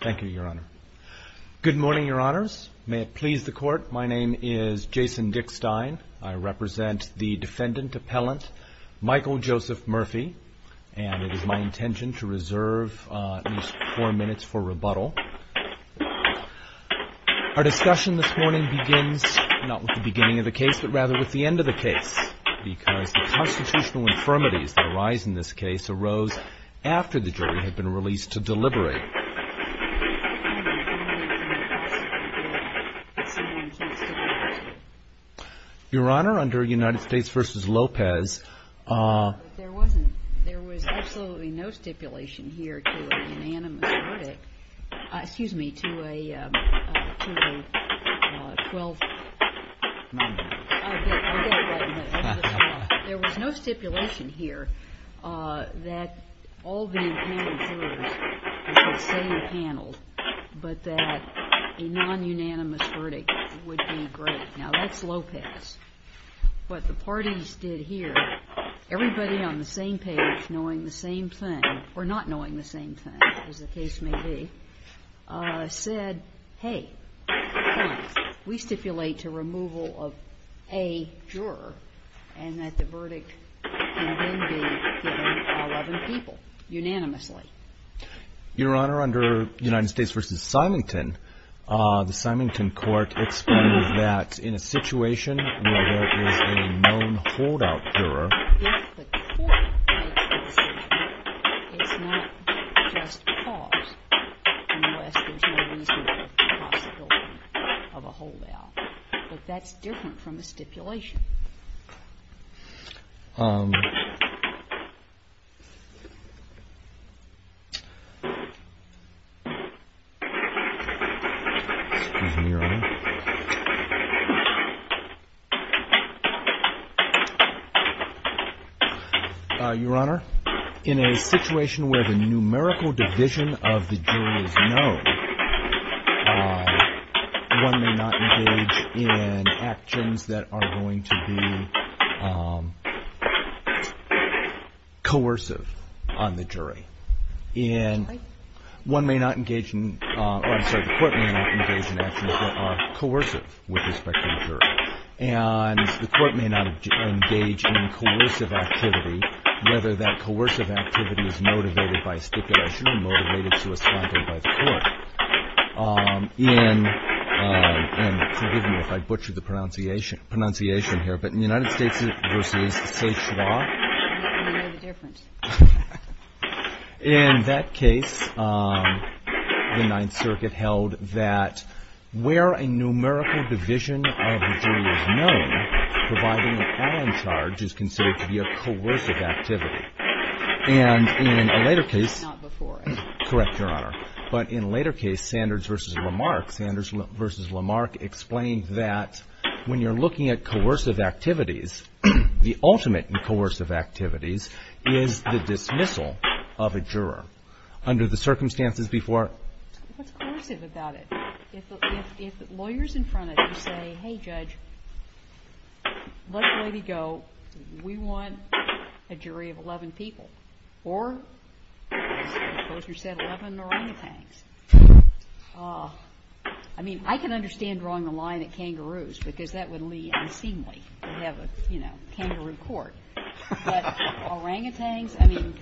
Thank you, your honor. Good morning, your honors. May it please the court. My name is Jason Dick Stein. I represent the defendant appellant, Michael Joseph Murphy, and it is my intention to reserve four minutes for rebuttal. Our discussion this morning begins not with the beginning of the case, but rather with the end of the case, because the constitutional infirmities that arise in this case arose after the jury had been released to deliberate. Your honor, under United States v. Lopez... There was absolutely no stipulation here to a unanimous verdict. There was no stipulation here that all the impaneled jurors should stay impaneled, but that a non-unanimous verdict would be great. Now, that's Lopez. What the parties did here, everybody on the same page, knowing the same thing, or not knowing the same thing, as the case may be, said, hey, come on, we stipulate to removal of a juror, and that the verdict can then be given to 11 people, unanimously. Your honor, under United States v. Symington, the Symington court explained that in a situation where there is a known holdout juror... Your honor, in a situation where the numerical division of the jury is known, one may not engage in a non-unanimous verdict. One may not engage in actions that are going to be coercive on the jury. And one may not engage in, or I'm sorry, the court may not engage in actions that are coercive with respect to the jury. And the court may not engage in coercive activity, whether that coercive activity is motivated by stipulation or motivated by the court. In that case, the Ninth Circuit held that where a numerical division of the jury is known, providing an all-in charge is considered to be a coercive activity. And in a later case... Not before it. Correct, your honor. But in a later case, Sanders v. Lamarck, Sanders v. Lamarck explained that when you're looking at coercive activities, the ultimate in coercive activities is the dismissal of a juror under the circumstances before... What's coercive about it? If lawyers in front of you say, hey, judge, let the lady go. We want a jury of 11 people or, as the composer said, 11 orangutans. I mean, I can understand drawing a line at kangaroos because that would lead unseemly to have a kangaroo court. But orangutans, I mean,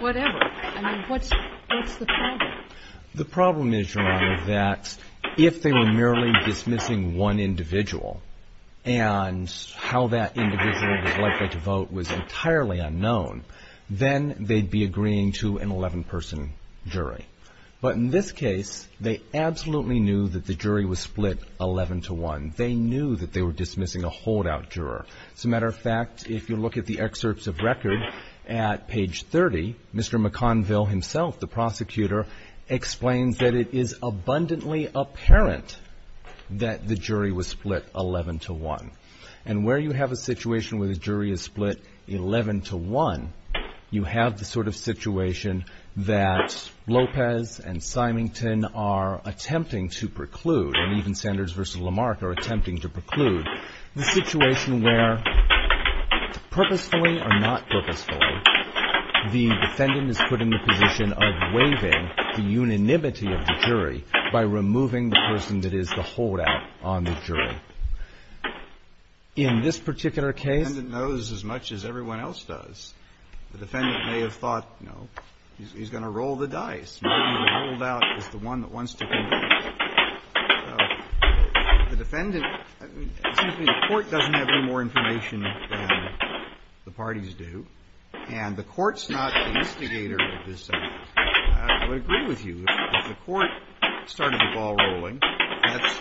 whatever. I mean, what's the problem? The problem is, your honor, that if they were merely dismissing one individual and how that individual was likely to vote was entirely unknown, then they'd be agreeing to an 11-person jury. But in this case, they absolutely knew that the jury was split 11-to-1. They knew that they were dismissing a holdout juror. As a matter of fact, if you look at the excerpts of record at page 30, Mr. McConville himself, the prosecutor, explains that it is abundantly apparent that the jury was split 11-to-1. And where you have a situation where the jury is split 11-to-1, you have the sort of situation that Lopez and Symington are attempting to preclude, and even Sanders versus Lamarck are attempting to preclude. The situation where, purposefully or not purposefully, the defendant is put in the position of waiving the unanimity of the jury by removing the person that is the holdout on the jury. In this particular case the defendant knows as much as everyone else does. The defendant may have thought, you know, he's going to roll the dice, and the holdout is the one that wants to convict. I would agree with you. If the court started the ball rolling,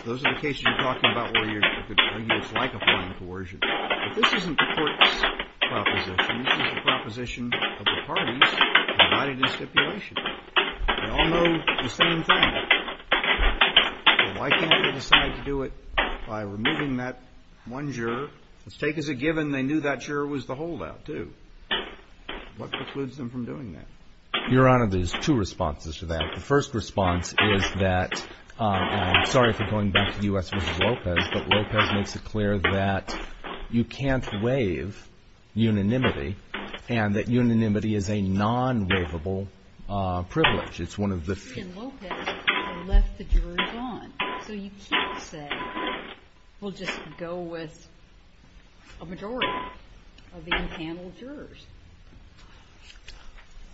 those are the cases you're talking about where you could argue it's like applying coercion. But this isn't the court's proposition. This is the proposition of the parties provided in stipulation. They all know the same thing. Why can't they decide to do it by removing that one juror? Let's take as a given they knew that juror was the holdout too. What precludes them from doing that? Your Honor, there's two responses to that. The first response is that, and I'm sorry for going back to U.S. versus Lopez, but Lopez makes it clear that you can't waive unanimity and that unanimity is a non-waivable privilege. It's one of the few.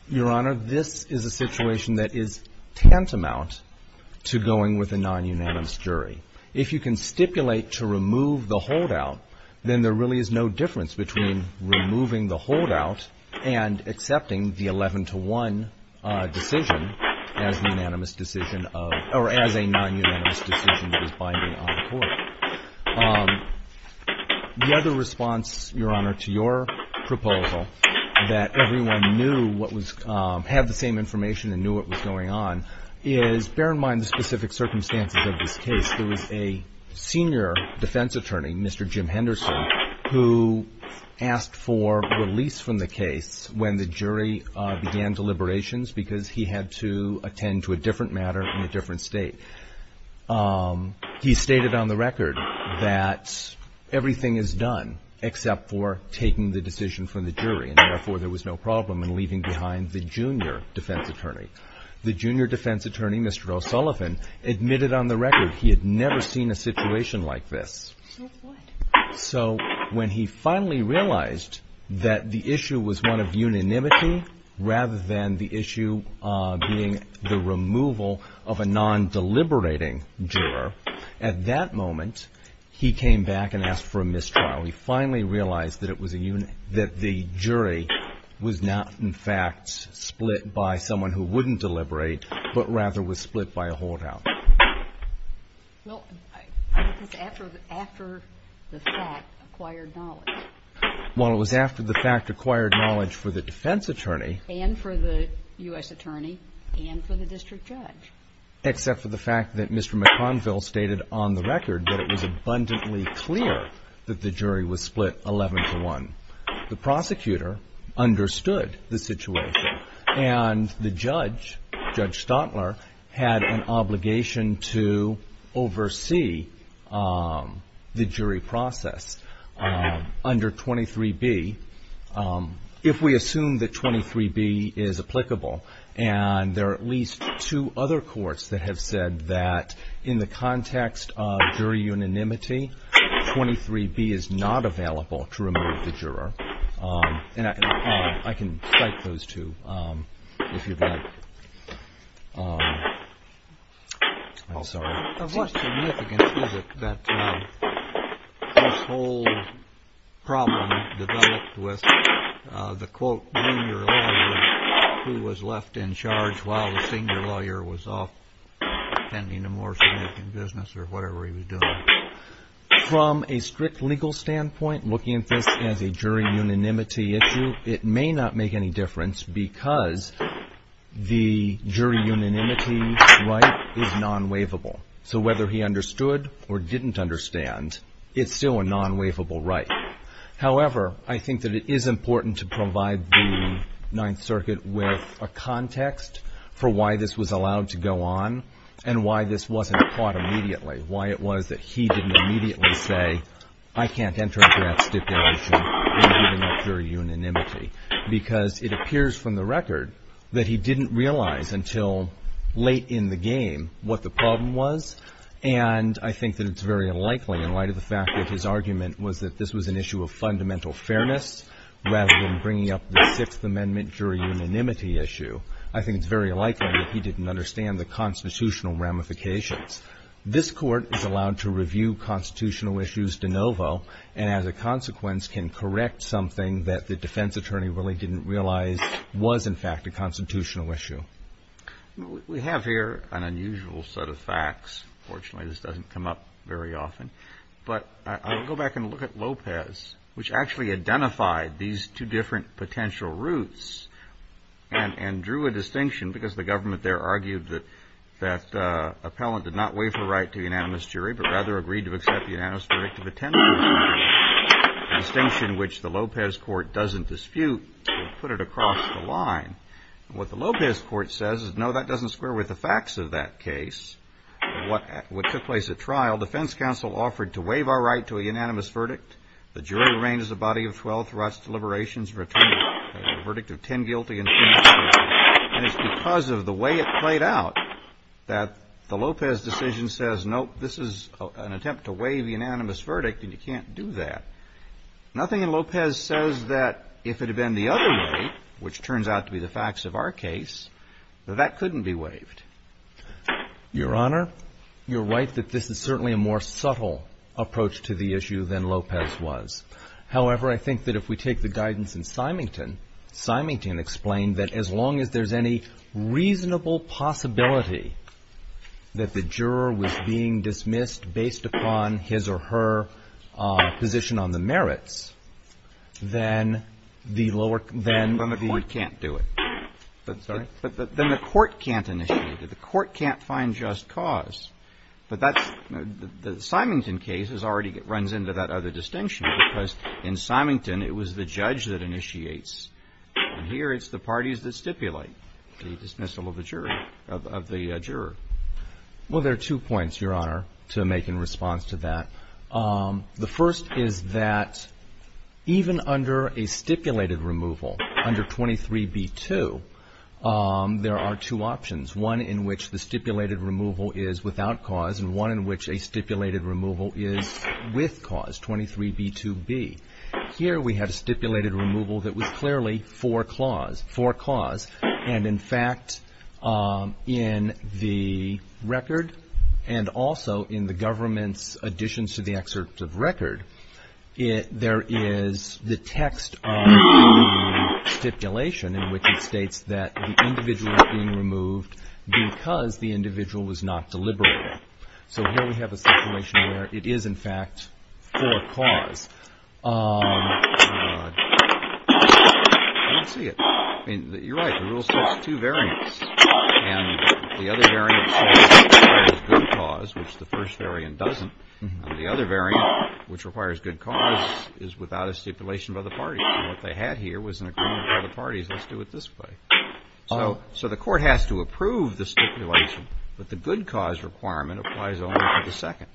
Your Honor, this is a situation that is tantamount to going with a non-unanimous jury. If you can stipulate to remove the holdout, then there really is no difference between removing the holdout and accepting the 11 to 1 decision. The other response, Your Honor, to your proposal that everyone had the same information and knew what was going on is, bear in mind the specific circumstances of this case. There was a senior defense attorney, Mr. Jim Henderson, who asked for release from the case when the jury began deliberations because he had to attend to a different matter in a different state. He stated on the record that everything is done except for taking the decision from the jury and therefore there was no problem in leaving behind the junior defense attorney. The junior defense attorney, Mr. O'Sullivan, admitted on the record he had never seen a situation like this. So when he finally realized that the issue was one of unanimity rather than the issue being the removal of a non-deliberating juror, at that moment he came back and asked for a mistrial. He finally realized that the jury was not, in fact, split by someone who wouldn't deliberate but rather was split by a holdout. Well, it was after the fact acquired knowledge. Well, it was after the fact acquired knowledge for the defense attorney. And for the U.S. attorney and for the district judge. Except for the fact that Mr. McConville stated on the record that it was abundantly clear that the jury was split 11 to 1. The prosecutor understood the situation and the judge, Judge Stotler, had an obligation to oversee the jury process under 23B. If we assume that 23B is applicable and there are at least two other courts that have said that in the context of jury unanimity, 23B is not available to remove the juror. And I can cite those two if you'd like. I'm sorry. Of what significance is it that this whole problem developed with the quote, who was left in charge while the senior lawyer was off attending a more significant business or whatever he was doing. From a strict legal standpoint, looking at this as a jury unanimity issue, it may not make any difference because the jury unanimity right is non-waivable. So whether he understood or didn't understand, it's still a non-waivable right. However, I think that it is important to provide the Ninth Circuit with a context for why this was allowed to go on and why this wasn't caught immediately. Why it was that he didn't immediately say, I can't enter into that stipulation in giving up jury unanimity. Because it appears from the record that he didn't realize until late in the game what the problem was. And I think that it's very unlikely in light of the fact that his argument was that this was an issue of fundamental fairness rather than bringing up the Sixth Amendment jury unanimity issue. I think it's very likely that he didn't understand the constitutional ramifications. This Court is allowed to review constitutional issues de novo and as a consequence can correct something that the defense attorney really didn't realize was in fact a constitutional issue. We have here an unusual set of facts. Unfortunately, this doesn't come up very often. But I'll go back and look at Lopez, which actually identified these two different potential routes and drew a distinction because the government there argued that appellant did not waive her right to unanimous jury but rather agreed to accept the unanimous verdict of attendance. A distinction which the Lopez Court doesn't dispute. We'll put it across the line. What the Lopez Court says is, no, that doesn't square with the facts of that case. What took place at trial, defense counsel offered to waive our right to a unanimous verdict. The jury arranges a body of 12 threats to liberations and returns a verdict of 10 guilty and 20 acquitted. And it's because of the way it played out that the Lopez decision says, nope, this is an attempt to waive the unanimous verdict and you can't do that. Nothing in Lopez says that if it had been the other way, which turns out to be the facts of our case, that that couldn't be waived. Your Honor, you're right that this is certainly a more subtle approach to the issue than Lopez was. However, I think that if we take the guidance in Symington, Symington explained that as long as there's any reasonable possibility that the juror was being dismissed based upon his or her position on the case, there's no way to waive the verdict. And if the verdict is based on the merits, then the lower court can't do it. But then the court can't initiate it. The court can't find just cause. But the Symington case already runs into that other distinction, because in Symington it was the judge that initiates. And here it's the parties that stipulate the dismissal of the juror. Well, there are two points, Your Honor, to make in response to that. The first is that even under a stipulated removal, under 23b-2, there are two options. One in which the stipulated removal is without cause, and one in which a stipulated removal is with cause, 23b-2b. Here we have stipulated removal that was clearly for cause. And in fact, in the record and also in the government's additions to the statute, there are two options. In addition to the excerpt of record, there is the text of the stipulation in which it states that the individual is being removed because the individual was not deliberative. So here we have a situation where it is, in fact, for cause. I don't see it. You're right. The rule states two variants. And the other variant states that it requires good cause, which the first variant doesn't. And the other variant, which requires good cause, is without a stipulation by the party. And what they had here was an agreement by the parties, let's do it this way. So the court has to approve the stipulation, but the good cause requirement applies only to the second,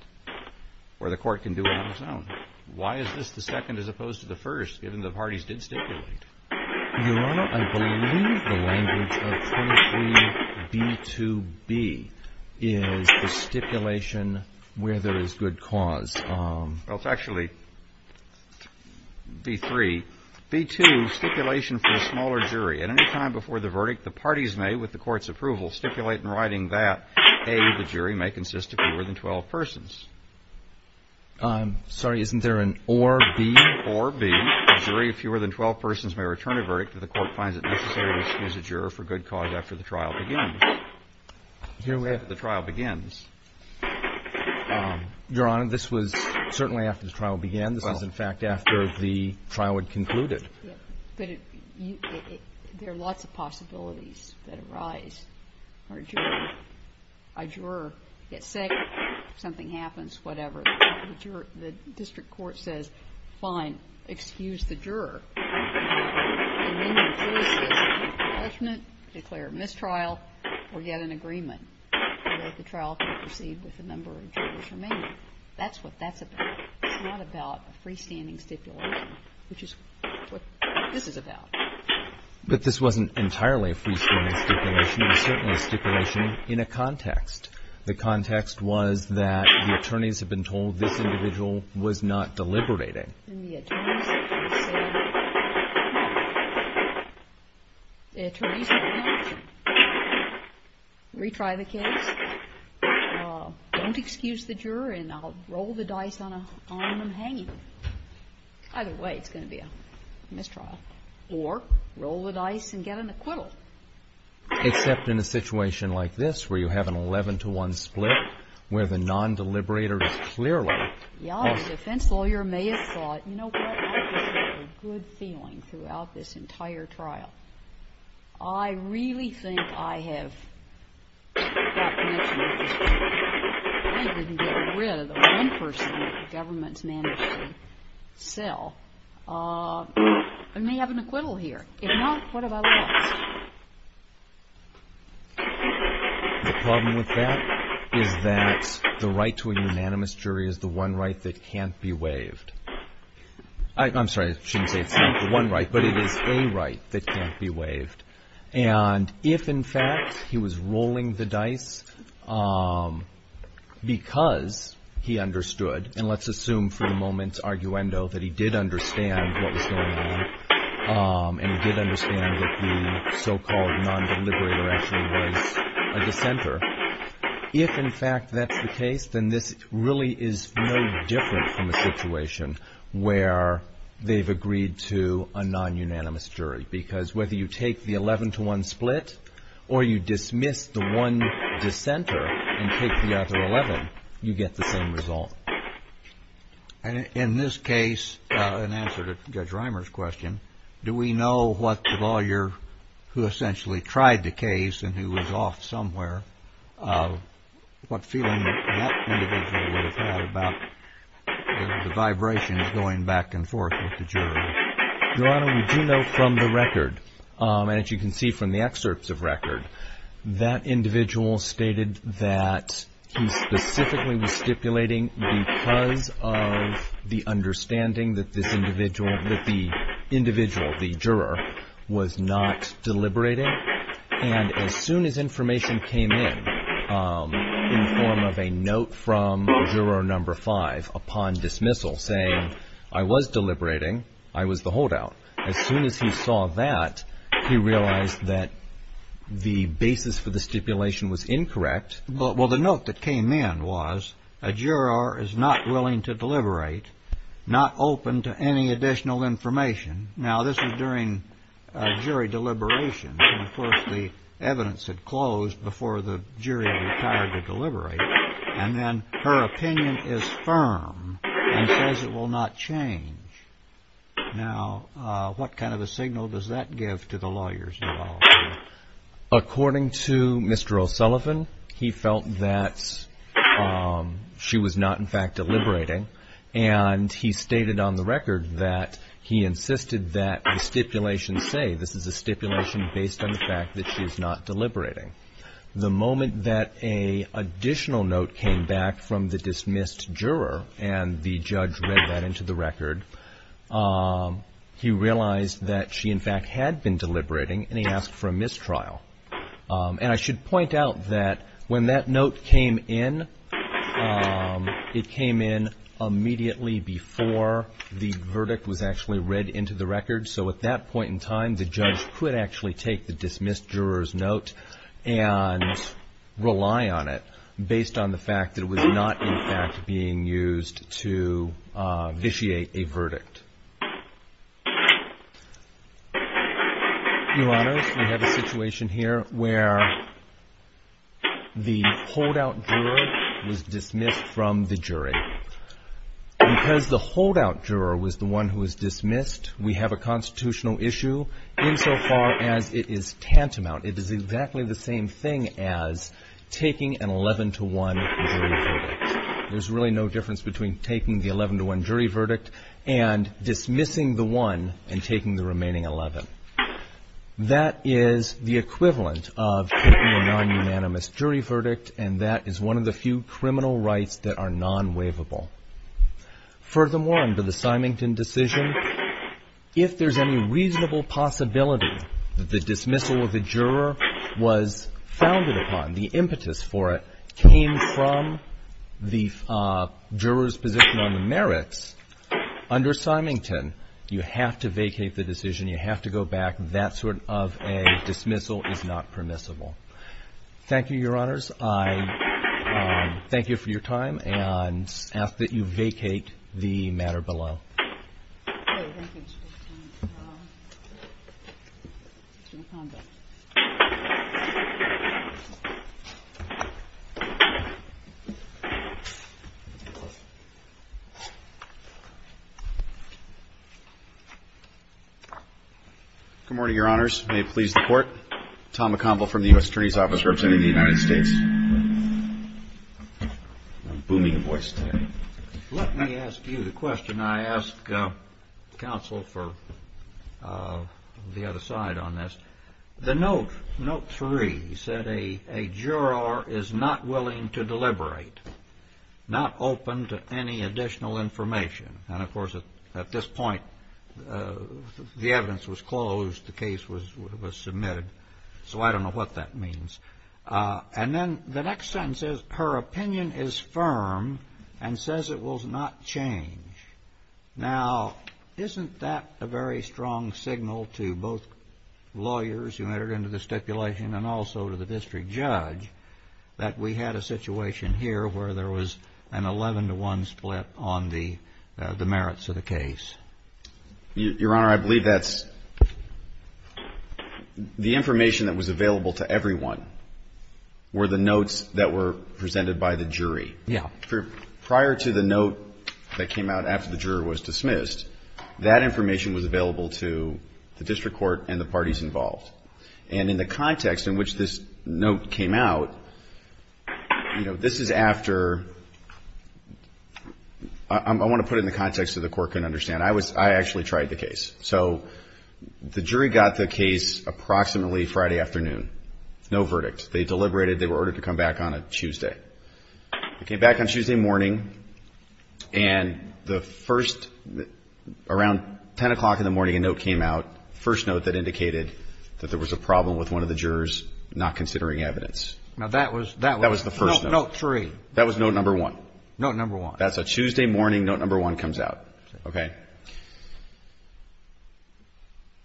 where the court can do it on its own. Why is this the second as opposed to the first, given the parties did stipulate? Your Honor, I believe the language of 23B2B is the stipulation where there is good cause. Well, it's actually B3. B2, stipulation for the smaller jury. At any time before the verdict, the parties may, with the court's approval, stipulate in writing that, A, the jury may consist of fewer than 12 persons. Sorry, isn't there an or B? Or B, a jury of fewer than 12 persons may return a verdict if the court finds it necessary to excuse a juror for good cause after the trial begins. Here we have the trial begins. Your Honor, this was certainly after the trial began. This was, in fact, after the trial had concluded. But there are lots of possibilities that arise. A juror gets sick, something happens, whatever. The district court says, fine, excuse the juror. And then the jury says, do you have a judgment, declare a mistrial, or get an agreement that the trial can proceed with a number of jurors remaining. That's what that's about. It's not about a freestanding stipulation, which is what this is about. But this wasn't entirely a freestanding stipulation. It was certainly a stipulation in a context. The context was that the attorneys had been told this individual was not deliberating. And the attorneys said, well, the attorneys have an option. Retry the case. Don't excuse the juror, and I'll roll the dice on them hanging. Either way, it's going to be a mistrial. Or roll the dice and get an acquittal. Except in a situation like this, where you have an 11-to-1 split, where the non-deliberator is clearly... Your Honor, the defense lawyer may have thought, you know what? I just have a good feeling throughout this entire trial. I really think I have got connection with this person. I didn't get rid of the one person that the government managed to sell. I may have an acquittal here. If not, what have I lost? The problem with that is that the right to a unanimous jury is the one right that can't be waived. I'm sorry, I shouldn't say it's not the one right, but it is a right that can't be waived. And if, in fact, he was rolling the dice because he understood and let's assume for the moment's arguendo that he did understand what was going on and he did understand that the so-called non-deliberator actually was a dissenter. If, in fact, that's the case, then this really is no different from a situation where they've agreed to a non-unanimous jury. Because whether you take the 11-to-1 split or you dismiss the one dissenter and take the other 11, you get the same result. In this case, in answer to Judge Reimer's question, do we know what the lawyer who essentially tried the case and who was off somewhere, what feeling that individual would have had about the vibrations going back and forth with the jury? Your Honor, we do know from the record and as you can see from the excerpts of record, that individual stated that he specifically was stipulating because of the understanding that this individual that the individual, the juror, was not deliberating. And as soon as information came in in form of a note from juror number five upon dismissal saying, I was deliberating, I was the holdout. As soon as he saw that, he realized that the basis for the stipulation was incorrect. Well, the note that came in was, a juror is not willing to deliberate, not open to any additional information. Now, this is during jury deliberation. And of course, the evidence had closed before the jury retired to deliberate. And then her opinion is firm and says it will not change. Now, what kind of a signal does that give to the lawyers involved? According to Mr. O'Sullivan, he felt that she was not, in fact, deliberating. And he stated on the record that he insisted that the stipulation say, this is a stipulation based on the fact that she is not deliberating. The moment that an additional note came back from the dismissed juror and the judge read that into the record, he realized that she, in fact, had been deliberating and he asked for a mistrial. And I should point out that when that note came in, it came in immediately before the verdict was actually read into the record. So at that point in time, the judge could actually take the dismissed juror's note and use it to vitiate a verdict. We have a situation here where the holdout juror was dismissed from the jury. Because the holdout juror was the one who was dismissed, we have a constitutional issue insofar as it is tantamount. It is exactly the same thing as taking an 11-1 jury verdict. There's really no difference between taking the 11-1 jury verdict and dismissing the one and taking the remaining 11. That is the equivalent of taking a non-unanimous jury verdict and that is one of the few criminal rights that are non-waivable. Furthermore, under the Symington decision, if there's any reasonable possibility that the dismissal of the juror was founded upon, the impetus for it came from the juror's position on the merits, under Symington, you have to vacate the decision. You have to go back. That sort of a dismissal is not permissible. Thank you, Your Honors. I thank you for your time and ask that you vacate the matter below. Good morning, Your Honors. May it please the Court. Tom McConville from the U.S. Attorney's Office, representing the United States. I'm booming in voice today. Let me ask you the question I asked counsel for the other side on this. The note 3 said a juror is not willing to deliberate, not open to any additional information. And, of course, at this point the evidence was closed, the case was submitted, so I don't know what that means. And then the next sentence says her opinion is firm and says it will not change. Now, isn't that a very strong signal to both lawyers who entered into the stipulation and also to the district judge that we had a situation here where there was an 11-to-1 split on the merits of the case? Your Honor, I believe that's the information that was available to everyone were the notes that were presented by the jury. Prior to the note that came out after the juror was dismissed, that information was available to the district court and the parties involved. And in the context in which this note came out, you know, this is after I want to put it in the context so the Court can understand. I actually tried the case. So the jury got the case approximately Friday afternoon. No verdict. They deliberated. They were ordered to come back on a Tuesday. They came back on Tuesday morning and the first, around 10 o'clock in the morning, a note came out, first note that indicated that there was a problem with one of the jurors not considering evidence. Now, that was the first note. Note three. That was note number one. Note number one. That's a Tuesday morning. Note number one comes out. Okay.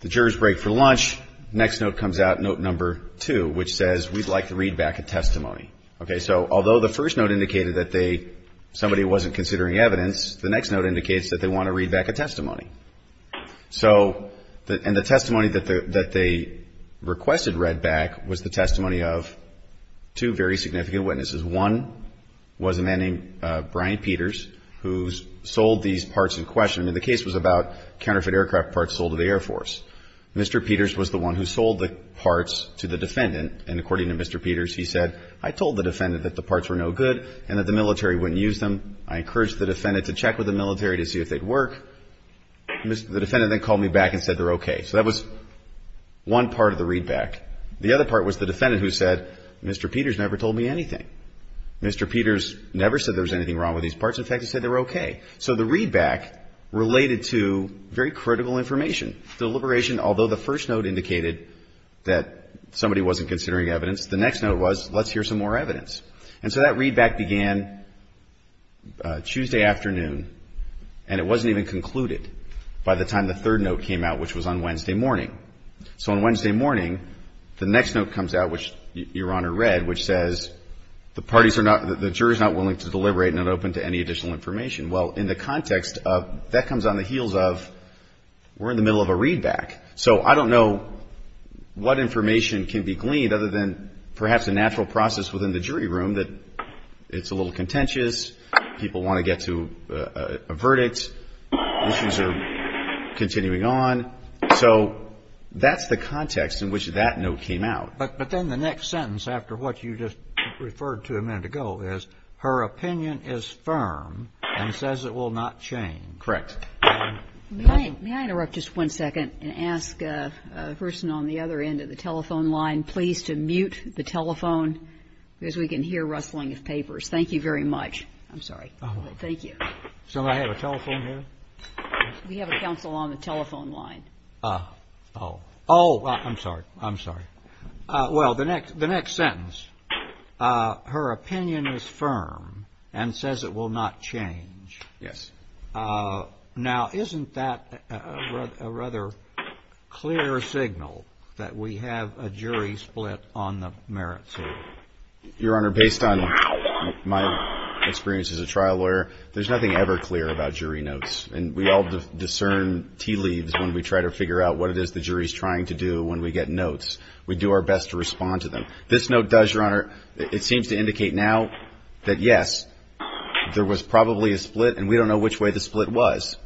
The jurors break for lunch. Next note comes out, note number two, which says we'd like to read back a testimony. Okay. So although the first note indicated that somebody wasn't considering evidence, the next note indicates that they want to read back a testimony. And the testimony that they requested read back was the testimony of two very significant witnesses. One was a man named Brian Peters, who sold these parts in question. I mean, the case was about counterfeit aircraft parts sold to the Air Force. Mr. Peters was the one who sold the parts to the defendant. And according to Mr. Peters, he said, I told the defendant that the parts were no good and that the military wouldn't use them. I encouraged the defendant to check with the military to see if they'd work. The defendant then called me back and said they're okay. So that was one part of the readback. The other part was the defendant who said, Mr. Peters never told me anything. Mr. Peters never said there was anything wrong with these parts. In fact, he said they were okay. So the readback related to very critical information. The deliberation, although the first note indicated that somebody wasn't considering evidence, the next note was, let's hear some more evidence. And so that readback began Tuesday afternoon, and it wasn't even concluded by the time the third note came out, which was on Wednesday morning. So on Wednesday morning, the next note comes out, which Your Honor read, which says the parties are not, the jurors not willing to deliberate and not open to any additional information. Well, in the context of, that comes on the heels of we're in the middle of a readback. So I don't know what information can be gleaned other than perhaps a natural process within the jury room that it's a little contentious. People want to get to a verdict. Issues are continuing on. So that's the context in which that note came out. But then the next sentence after what you just referred to a minute ago is her opinion is firm and says it will not change. Correct. May I interrupt just one second and ask the person on the other end of the telephone line please to mute the telephone because we can hear rustling of papers. Thank you very much. I'm sorry. Thank you. So I have a telephone here? We have a counsel on the telephone line. Oh. Oh. I'm sorry. I'm sorry. Well, the next sentence, her opinion is firm and says it will not change. Yes. Now isn't that a rather clear signal that we have a jury split on the merit suit? Your Honor, based on my experience as a trial lawyer, there's nothing ever clear about jury notes. And we all discern tea leaves when we try to figure out what it is the jury is trying to do when we get notes. We do our best to respond to them. This note does, Your Honor, it seems to indicate now that yes, there was probably a split and we don't know which way the split was.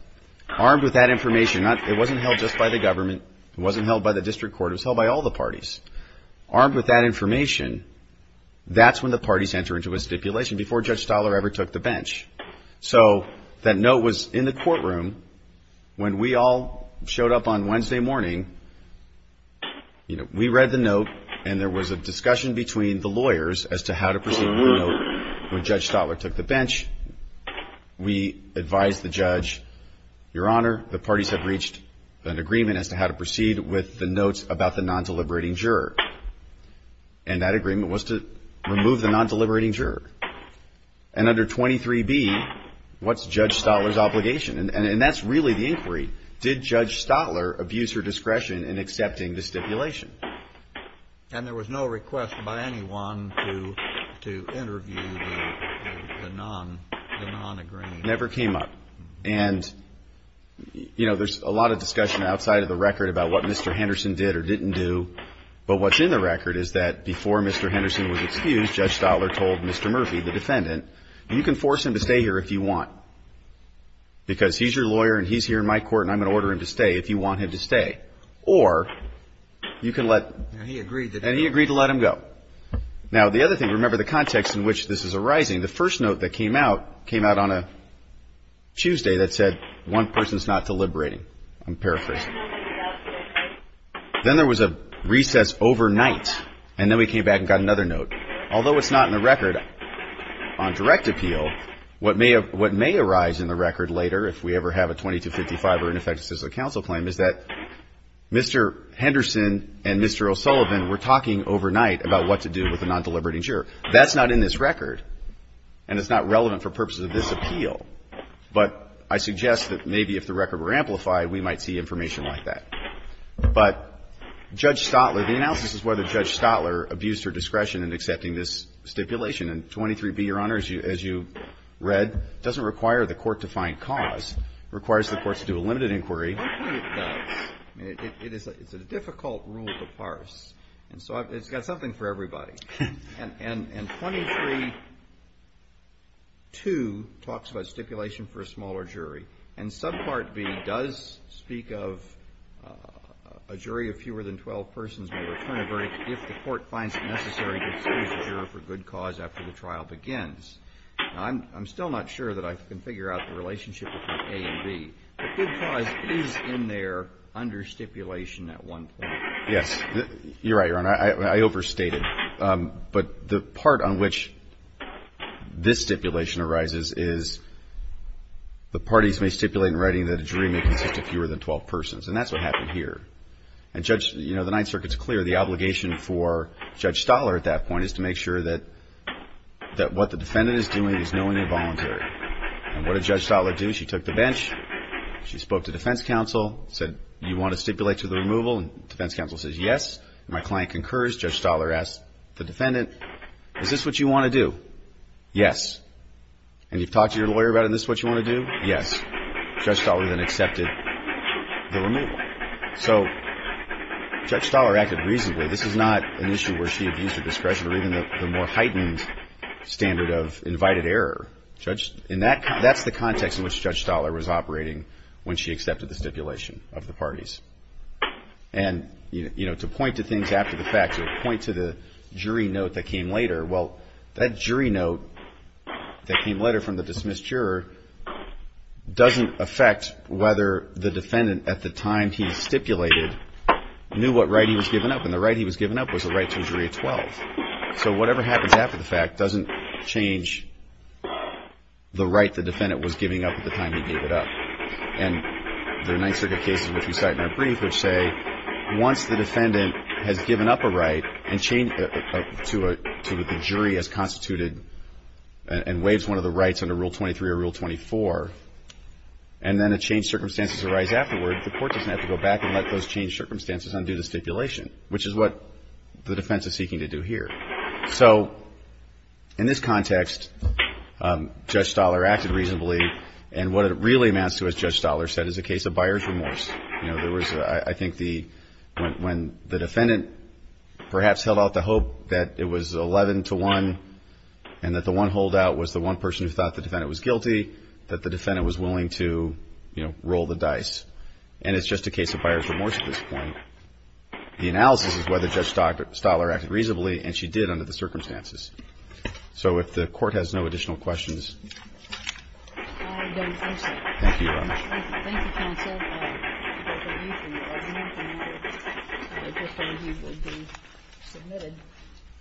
Armed with that information, it wasn't held just by the government. It wasn't held by the district court. It was held by all the parties. Armed with that information, that's when the parties enter into a stipulation before Judge Stotler ever took the bench. So that note was in the courtroom when we all showed up on Wednesday morning. We read the note and there was a discussion between the lawyers as to how to proceed with the note when Judge Stotler took the bench. We advised the judge, Your Honor, the parties have reached an agreement as to how to proceed with the notes about the non-deliberating juror. And that agreement was to remove the non-deliberating juror. And under 23B, what's Judge Stotler's obligation? And that's really the inquiry. Did Judge Stotler abuse her discretion in accepting the stipulation? And there was no request by anyone to interview the non-agreeing juror. Never came up. There's a lot of discussion outside of the record about what Mr. Henderson did or didn't do. But what's in the record is that before Mr. Henderson was excused, Judge Stotler told Mr. Murphy, the defendant, you can force him to stay here if you want. Because he's your lawyer and he's here in my court and I'm going to order him to stay if you want him to stay. Or you can let and he agreed to let him go. Now the other thing, remember the context in which this is arising, the first note that came out, came out on a Tuesday that said, one person's not deliberating. I'm paraphrasing. Then there was a recess overnight. And then we came back and got another note. Although it's not in the record on direct appeal, what may arise in the record later if we ever have a 2255 or an effective civil counsel claim is that Mr. Henderson and Mr. O'Sullivan were talking overnight about what to do with the record. And it's not relevant for purposes of this appeal, but I suggest that maybe if the record were amplified, we might see information like that. But Judge Stotler, the analysis is whether Judge Stotler abused her discretion in accepting this stipulation. And 23b, Your Honor, as you read, doesn't require the court to find cause. It requires the courts to do a limited inquiry. Kennedy, it does. It's a difficult rule to parse. And so it's got something for everybody. And 232 talks about stipulation for a smaller jury. And subpart b does speak of a jury of fewer than 12 persons may return a verdict if the court finds it necessary to excuse a juror for good cause after the trial begins. I'm still not sure that I can figure out the relationship between a and b. But good cause is in there under stipulation at one point. Yes. You're right, Your Honor. I overstated. But the part on which this stipulation arises is the parties may stipulate in writing that a jury may consist of fewer than 12 persons. And that's what happened here. And Judge, you know, the Ninth Circuit's clear. The obligation for Judge Stotler at that point is to make sure that what the defendant is doing is knowingly involuntary. And what did Judge Stotler do? She took the bench. She spoke to defense counsel. Said, you want to stipulate to the removal? And defense counsel says yes. And my client concurs. Judge Stotler asks the defendant, is this what you want to do? Yes. And you've talked to your lawyer about it and this is what you want to do? Yes. Judge Stotler then accepted the removal. So Judge Stotler acted reasonably. This is not an issue where she abused her discretion or even the more heightened standard of invited error. That's the context in which Judge Stotler was operating when she accepted the stipulation of the parties. And, you know, to point to things after the fact, to point to the jury note that came later, well, that jury note that came later from the dismissed juror doesn't affect whether the defendant at the time he stipulated knew what right he was giving up. And the right he was giving up was the right to a jury of 12. So whatever happens after the fact doesn't change the right the defendant was giving up at the time he gave it up. And there are Ninth Circuit cases which we cite in our brief which say once the defendant has given up a right to what the jury has constituted and waives one of the rights under Rule 23 or Rule 24 and then a changed circumstances arise afterward, the court doesn't have to go back and let those changed circumstances undo the stipulation, which is what the defense is seeking to do here. So in this context Judge Stoller acted reasonably. And what it really amounts to, as Judge Stoller said, is a case of buyer's remorse. You know, there was, I think the when the defendant perhaps held out the hope that it was 11 to 1 and that the one holdout was the one person who thought the defendant was guilty, that the defendant was willing to, you know, roll the dice. And it's just a case of buyer's remorse at this point. The analysis is whether Judge Stoller acted reasonably, and she did under the circumstances. So if the court has no additional questions. I don't think so. Thank you, Your Honor. Thank you, counsel.